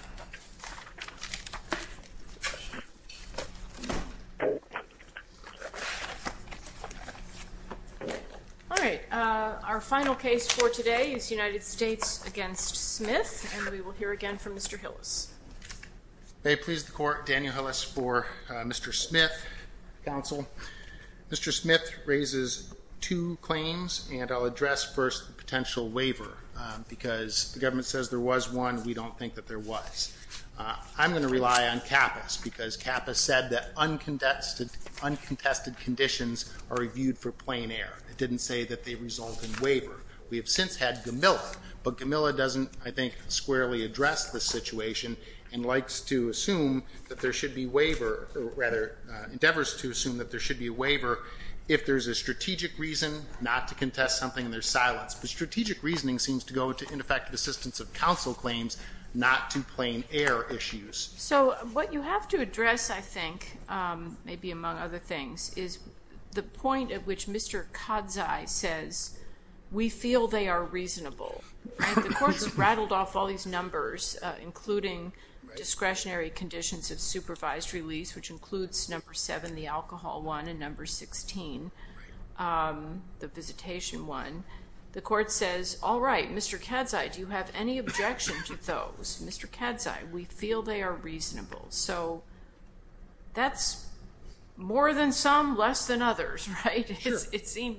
All right, our final case for today is United States v. Smith, and we will hear again from Mr. Hillis. May it please the Court, Daniel Hillis for Mr. Smith, counsel. Mr. Smith raises two claims, and I'll address first the potential waiver, because the government says there was one. We don't think that there was. I'm going to rely on Kappas, because Kappas said that uncontested conditions are reviewed for plain air. It didn't say that they result in waiver. We have since had Gamilla, but Gamilla doesn't, I think, squarely address the situation and likes to assume that there should be waiver, or rather endeavors to assume that there should be a waiver if there's a strategic reason not to contest something and there's silence. But strategic reasoning seems to go to ineffective assistance of counsel claims, not to plain air issues. So what you have to address, I think, maybe among other things, is the point at which Mr. Kadzai says, we feel they are reasonable. The Court's rattled off all these numbers, including discretionary conditions of supervised release, which includes number 7, the alcohol one, and number 16, the visitation one. The Court says, all right, Mr. Kadzai, do you have any objection to those? Mr. Kadzai, we feel they are reasonable. So that's more than some, less than others, right?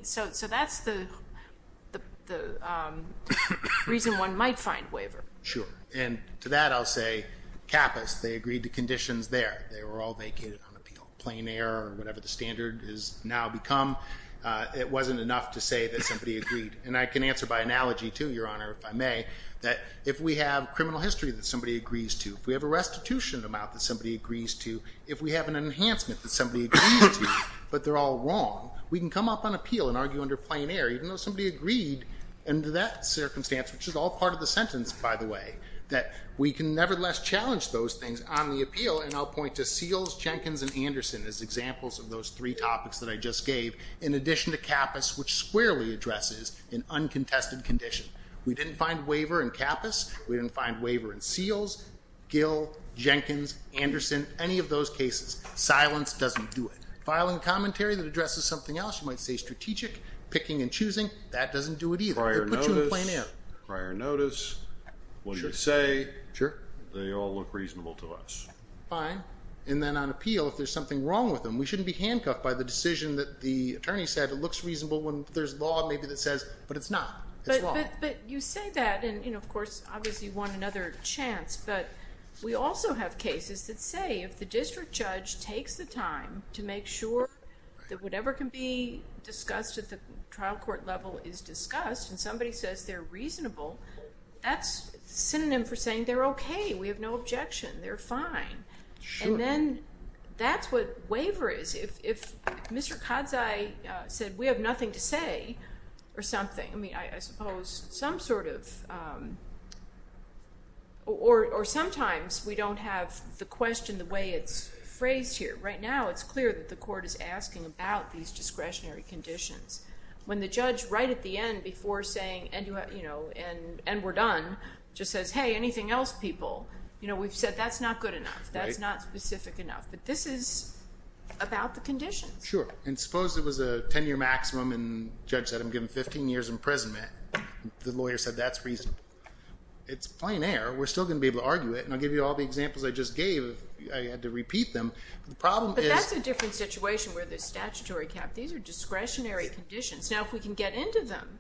So that's the reason one might find waiver. Sure. And to that, I'll say, Kappas, they agreed to conditions there. They were all vacated on appeal, plain air or whatever the standard has now become. It wasn't enough to say that somebody agreed. And I can answer by analogy, too, Your Honor, if I may, that if we have criminal history that somebody agrees to, if we have a restitution amount that somebody agrees to, if we have an enhancement that somebody agrees to, but they're all wrong, we can come up on appeal and argue under plain air, even though somebody agreed under that circumstance, which is all part of the sentence, by the way, that we can nevertheless challenge those things on the appeal. And I'll point to Seals, Jenkins, and Anderson as examples of those three topics that I just gave, in addition to Kappas, which squarely addresses an uncontested condition. We didn't find waiver in Kappas. We didn't find waiver in Seals, Gill, Jenkins, Anderson, any of those cases. Silence doesn't do it. Filing a commentary that addresses something else, you might say strategic, picking and choosing, that doesn't do it either. Prior notice. They put you in plain air. Prior notice. What do you say? Sure. They all look reasonable to us. Fine. And then on appeal, if there's something wrong with them, we shouldn't be handcuffed by the attorney said. It looks reasonable when there's law maybe that says, but it's not. It's wrong. But you say that, and of course, obviously you want another chance, but we also have cases that say, if the district judge takes the time to make sure that whatever can be discussed at the trial court level is discussed, and somebody says they're reasonable, that's synonym for saying they're okay. We have no objection. They're fine. Sure. And then that's what waiver is. If Mr. Kadzai said, we have nothing to say or something, I mean, I suppose some sort of, or sometimes we don't have the question the way it's phrased here. Right now, it's clear that the court is asking about these discretionary conditions. When the judge right at the end before saying, and we're done, just says, hey, anything else people, we've said that's not good enough. That's not specific enough. But this is about the conditions. Sure. And suppose it was a 10-year maximum, and the judge said, I'm giving 15 years imprisonment. The lawyer said, that's reasonable. It's plain air. We're still going to be able to argue it, and I'll give you all the examples I just gave. I had to repeat them. But the problem is- But that's a different situation where the statutory cap, these are discretionary conditions. Now, if we can get into them,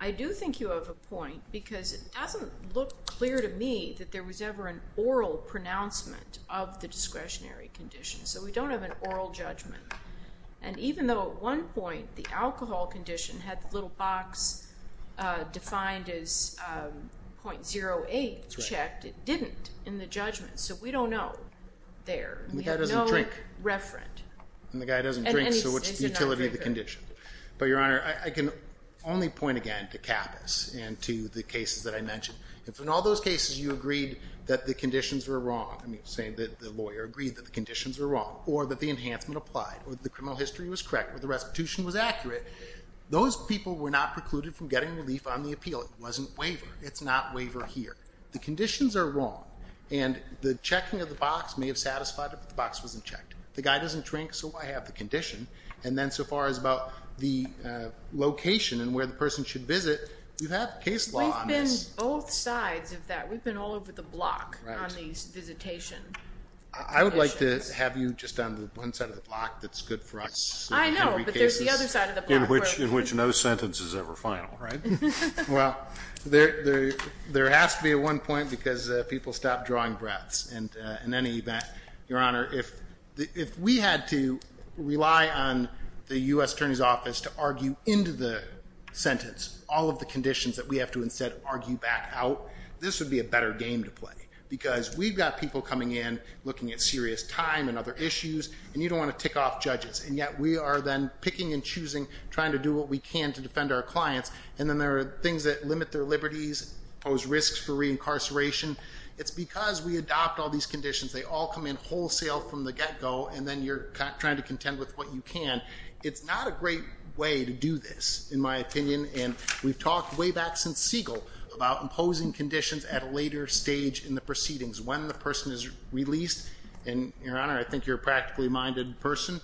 I do think you have a point, because it doesn't look clear to me that there was ever an oral pronouncement of the discretionary condition. So we don't have an oral judgment. And even though at one point, the alcohol condition had the little box defined as 0.08 checked, it didn't in the judgment. So we don't know there. We have no referent. And the guy doesn't drink. And the guy doesn't drink, so what's the utility of the condition? But Your Honor, I can only point again to CAPAS and to the cases that I mentioned. If in all those cases you agreed that the conditions were wrong, I mean, say that the lawyer agreed that the conditions were wrong, or that the enhancement applied, or the criminal history was correct, or the restitution was accurate, those people were not precluded from getting relief on the appeal. It wasn't waiver. It's not waiver here. The conditions are wrong. And the checking of the box may have satisfied it, but the box wasn't checked. The guy doesn't drink, so I have the condition. And then so far as about the location and where the person should visit, you have case law on this. There's both sides of that. We've been all over the block on these visitation conditions. I would like to have you just on the one side of the block that's good for us. I know, but there's the other side of the block. In which no sentence is ever final, right? Well, there has to be a one point because people stop drawing breaths. And in any event, Your Honor, if we had to rely on the U.S. Attorney's Office to argue into the sentence all of the conditions that we have to instead argue back out, this would be a better game to play. Because we've got people coming in looking at serious time and other issues, and you don't want to tick off judges. And yet we are then picking and choosing, trying to do what we can to defend our clients. And then there are things that limit their liberties, pose risks for reincarceration. It's because we adopt all these conditions. They all come in wholesale from the get-go, and then you're trying to contend with what you can. It's not a great way to do this, in my opinion. And we've talked way back since Siegel about imposing conditions at a later stage in the proceedings. When the person is released, and Your Honor, I think you're a practically minded person,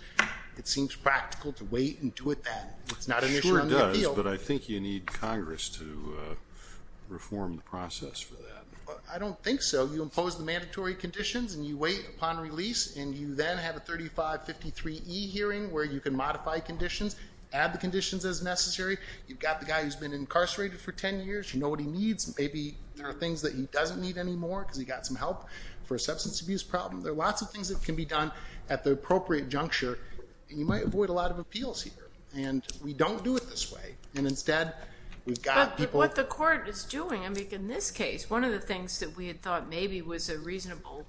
it seems practical to wait and do it then. It's not an issue under appeal. It sure does, but I think you need Congress to reform the process for that. I don't think so. You impose the mandatory conditions, and you wait upon release, and you then have a 3553E hearing where you can modify conditions, add the conditions as necessary. You've got the guy who's been incarcerated for 10 years. You know what he needs. Maybe there are things that he doesn't need anymore because he got some help for a substance abuse problem. There are lots of things that can be done at the appropriate juncture, and you might avoid a lot of appeals here. And we don't do it this way. And instead, we've got people- But what the court is doing, I mean, in this case, one of the things that we had thought maybe was a reasonable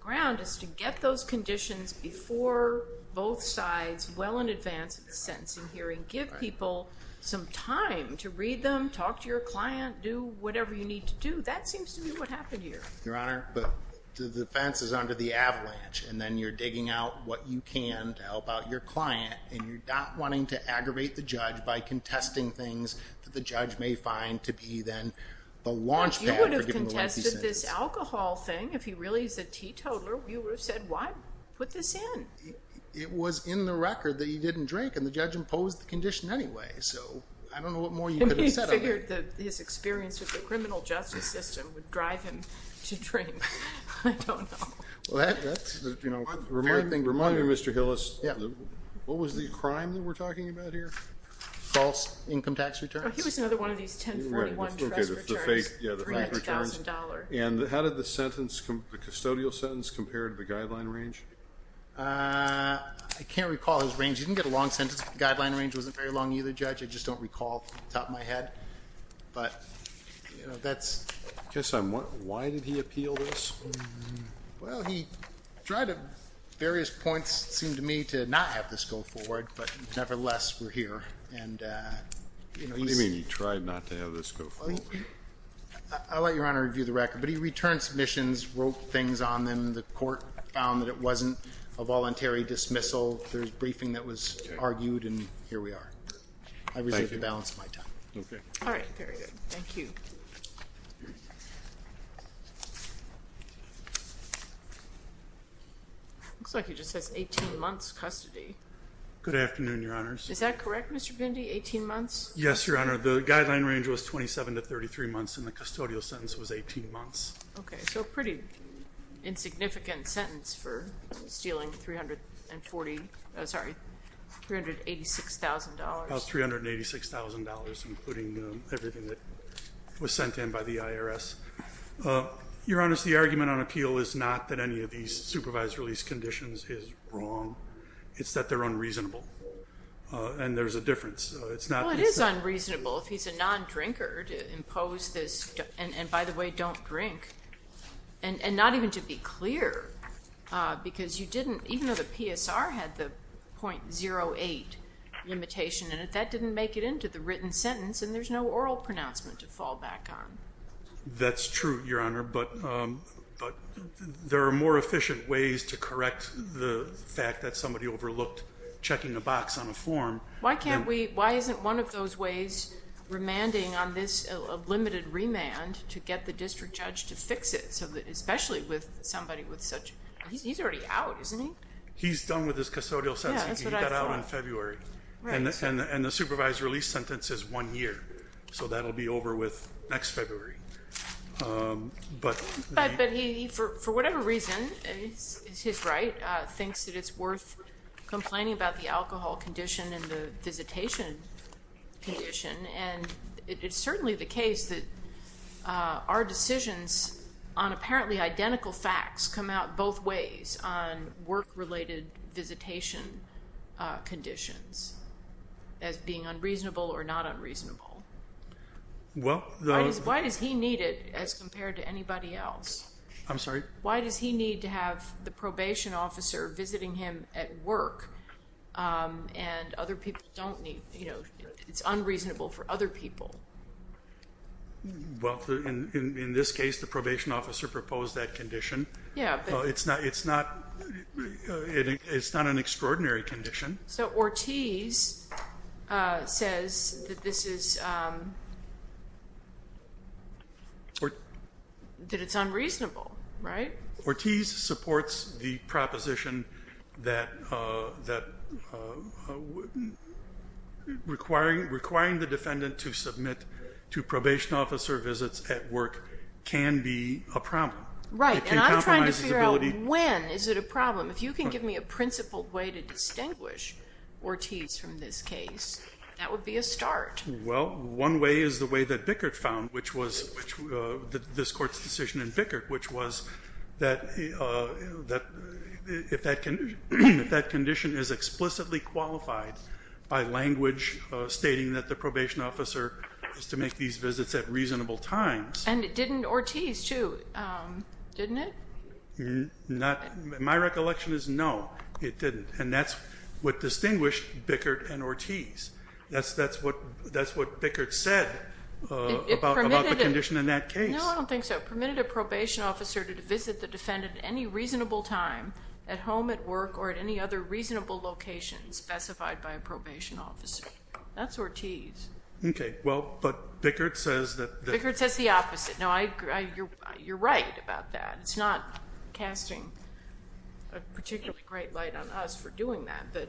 ground is to get those conditions before both sides, well in advance of the sentencing hearing. Give people some time to read them, talk to your client, do whatever you need to do. That seems to be what happened here. Your Honor, but the defense is under the avalanche, and then you're digging out what you can to help out your client, and you're not wanting to aggravate the judge by contesting things This alcohol thing, if he really is a teetotaler, you would have said, why put this in? It was in the record that he didn't drink, and the judge imposed the condition anyway, so I don't know what more you could have said on it. I mean, he figured that his experience with the criminal justice system would drive him to drink. I don't know. Well, that's, you know, a fair thing to remind you, Mr. Hillis, what was the crime that we're talking about here? False income tax returns. Well, he was another one of these 1041 trust returns, $300,000. And how did the sentence, the custodial sentence, compare to the guideline range? I can't recall his range. He didn't get a long sentence, but the guideline range wasn't very long either, Judge. I just don't recall off the top of my head, but, you know, that's. Okay, so why did he appeal this? Well, he tried at various points, it seemed to me, to not have this go forward, but nevertheless, we're here, and, you know, he's. What do you mean he tried not to have this go forward? I'll let Your Honor review the record, but he returned submissions, wrote things on them, the court found that it wasn't a voluntary dismissal, there was briefing that was argued, and here we are. I reject the balance of my time. Okay. All right, very good. Thank you. Looks like he just has 18 months custody. Good afternoon, Your Honors. Is that correct, Mr. Bindi, 18 months? Yes, Your Honor. The guideline range was 27 to 33 months, and the custodial sentence was 18 months. Okay, so a pretty insignificant sentence for stealing $386,000. About $386,000, including everything that was sent in by the IRS. Your Honors, the argument on appeal is not that any of these supervised release conditions is wrong. It's that they're unreasonable, and there's a difference. Well, it is unreasonable if he's a non-drinker to impose this, and by the way, don't drink, and not even to be clear, because you didn't, even though the PSR had the .08 limitation, and that didn't make it into the written sentence, and there's no oral pronouncement to fall back on. That's true, Your Honor, but there are more efficient ways to correct the fact that somebody overlooked checking a box on a form. Why isn't one of those ways remanding on this a limited remand to get the district judge to fix it, especially with somebody with such, he's already out, isn't he? He's done with his custodial sentence. Yeah, that's what I thought. He got out in February. Right. And the supervised release sentence is one year, so that'll be over with next February. But he, for whatever reason, is his right, thinks that it's worth complaining about the alcohol condition and the visitation condition, and it's certainly the case that our decisions on apparently identical facts come out both ways on work-related visitation conditions as being unreasonable or not unreasonable. Why does he need it as compared to anybody else? I'm sorry? Why does he need to have the probation officer visiting him at work, and other people don't need, you know, it's unreasonable for other people? Well, in this case, the probation officer proposed that condition. Yeah. It's not an extraordinary condition. So Ortiz says that this is, that it's unreasonable, right? Ortiz supports the proposition that requiring the defendant to submit to probation officer visits at work can be a problem. Right, and I'm trying to figure out when is it a problem. If you can give me a principled way to distinguish Ortiz from this case, that would be a start. Well, one way is the way that Bickert found, which was, this court's decision in Bickert, which was that if that condition is explicitly qualified by language stating that the probation officer is to make these visits at reasonable times. And it didn't Ortiz, too, didn't it? My recollection is no, it didn't. And that's what distinguished Bickert and Ortiz. That's what Bickert said about the condition in that case. No, I don't think so. It permitted a probation officer to visit the defendant at any reasonable time at home, at work, or at any other reasonable location specified by a probation officer. That's Ortiz. Okay, well, but Bickert says that... Bickert says the opposite. No, you're right about that. It's not casting a particularly bright light on us for doing that. But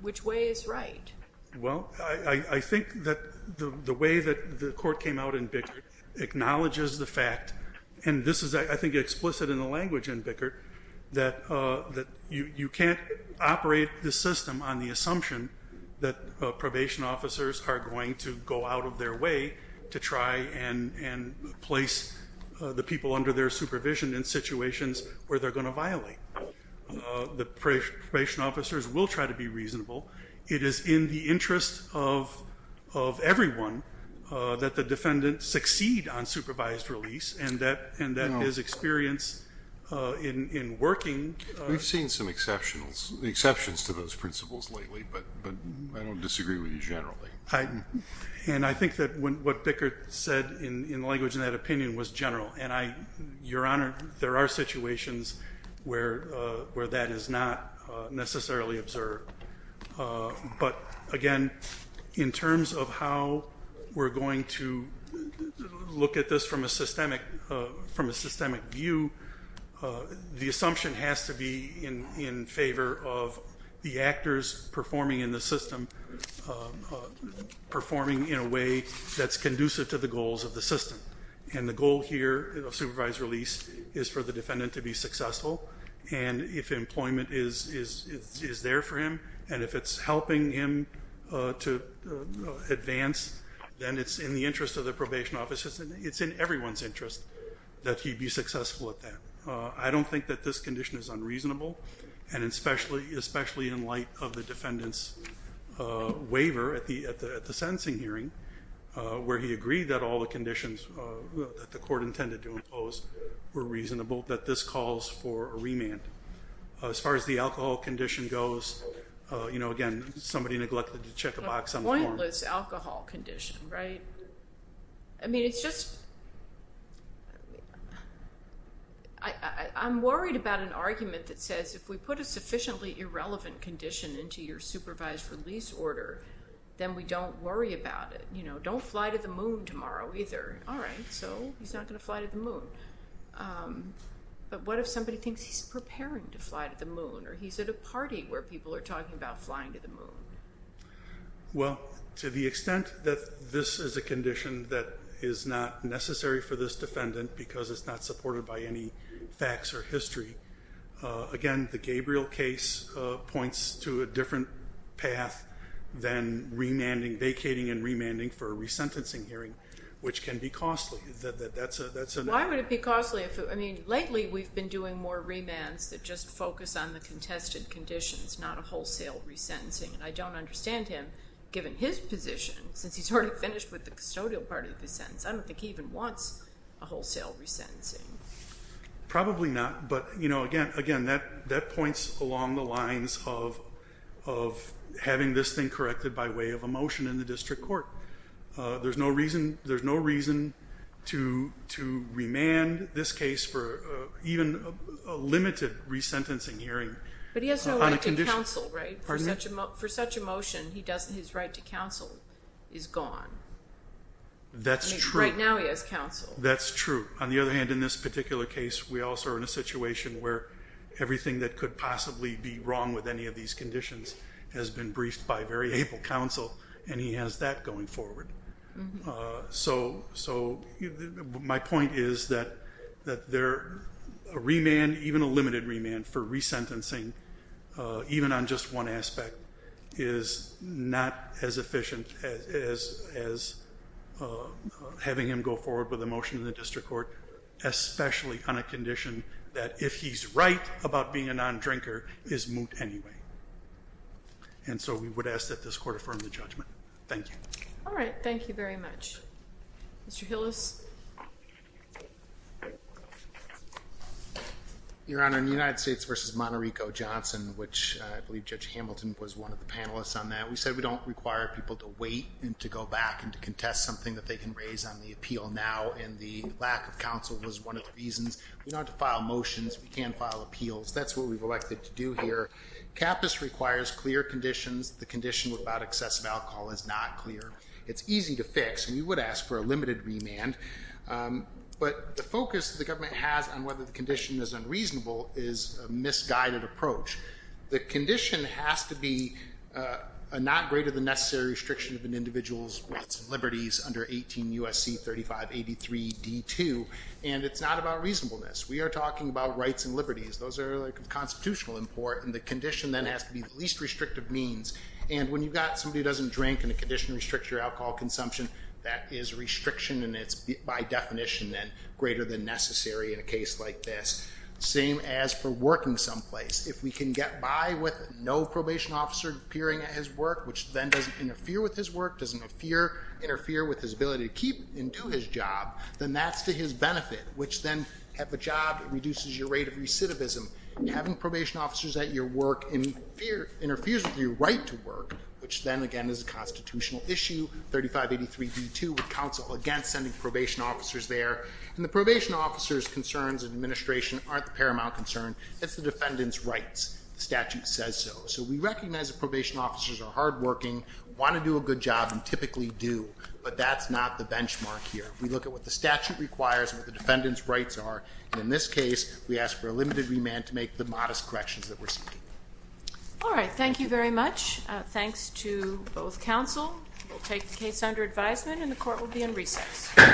which way is right? Well, I think that the way that the court came out in Bickert acknowledges the fact, and this is, I think, explicit in the language in Bickert, that you can't operate the system on the assumption that probation officers are going to go out of their way to try and place the people under their supervision in situations where they're going to violate. The probation officers will try to be reasonable. It is in the interest of everyone that the defendant succeed on supervised release, and that his experience in working... We've seen some exceptions to those principles lately, but I don't disagree with you generally. And I think that what Bickert said in language and that opinion was general, and Your Honor, there are situations where that is not necessarily observed. But again, in terms of how we're going to look at this from a systemic view, the assumption has to be in favor of the actors performing in the system performing in a way that's conducive to the goals of the system. And the goal here of supervised release is for the defendant to be successful, and if employment is there for him, and if it's helping him to advance, then it's in the interest of the probation officers, and it's in everyone's interest that he be successful at that. I don't think that this condition is unreasonable, and especially in light of the defendant's waiver at the sentencing hearing where he agreed that all the conditions that the court intended to impose were reasonable, that this calls for a remand. As far as the alcohol condition goes, you know, again, somebody neglected to check a box on the floor. A pointless alcohol condition, right? I mean, it's just... I'm worried about an argument that says, if we put a sufficiently irrelevant condition into your supervised release order, then we don't worry about it. You know, don't fly to the moon tomorrow either. All right, so he's not going to fly to the moon. But what if somebody thinks he's preparing to fly to the moon, or he's at a party where people are talking about flying to the moon? Well, to the extent that this is a condition that is not necessary for this defendant because it's not supported by any facts or history, again, the Gabriel case points to a different path than vacating and remanding for a resentencing hearing, which can be costly. Why would it be costly? I mean, lately we've been doing more remands that just focus on the contested conditions, not a wholesale resentencing. And I don't understand him, given his position, since he's already finished with the custodial part of his sentence. I don't think he even wants a wholesale resentencing. Probably not. But, you know, again, that points along the lines of having this thing corrected by way of a motion in the district court. There's no reason to remand this case for even a limited resentencing hearing on a condition. For such a motion, his right to counsel is gone. Right now he has counsel. That's true. On the other hand, in this particular case, we also are in a situation where everything that could possibly be wrong with any of these conditions has been briefed by very able counsel, and he has that going forward. So my point is that a remand, even a limited remand for resentencing, even on just one aspect, is not as efficient as having him go forward with a motion in the district court, especially on a condition that, if he's right about being a non-drinker, is moot anyway. And so we would ask that this court affirm the judgment. Thank you. All right, thank you very much. Mr. Hillis? Your Honor, in the United States v. Monterico-Johnson, which I believe Judge Hamilton was one of the panelists on that, we said we don't require people to wait and to go back and to contest something that they can raise on the appeal now, and the lack of counsel was one of the reasons. We don't have to file motions. We can file appeals. That's what we've elected to do here. CAPAS requires clear conditions. The condition without excessive alcohol is not clear. It's easy to fix, and we would ask for a limited remand. But the focus the government has on whether the condition is unreasonable is a misguided approach. The condition has to be a not-greater-than-necessary restriction of an individual's rights and liberties under 18 U.S.C. 3583 D.2, and it's not about reasonableness. We are talking about rights and liberties. Those are, like, of constitutional import, and the condition then has to be the least restrictive means. And when you've got somebody who doesn't drink and the condition restricts your alcohol consumption, that is a restriction, and it's, by definition, then greater than necessary in a case like this. Same as for working someplace. If we can get by with no probation officer appearing at his work, which then doesn't interfere with his work, doesn't interfere with his ability to keep and do his job, then that's to his benefit, which then at the job reduces your rate of recidivism. Having probation officers at your work interferes with your right to work, which then, again, is a constitutional issue. 3583 D.2 would counsel against sending probation officers there. And the probation officer's concerns in administration aren't the paramount concern. It's the defendant's rights. The statute says so. So we recognize that probation officers are hardworking, want to do a good job, and typically do, but that's not the benchmark here. We look at what the statute requires and what the defendant's rights are, and in this case, we ask for a limited remand to make the modest corrections that we're seeking. All right, thank you very much. Thanks to both counsel. We'll take the case under advisement, and the court will be in recess.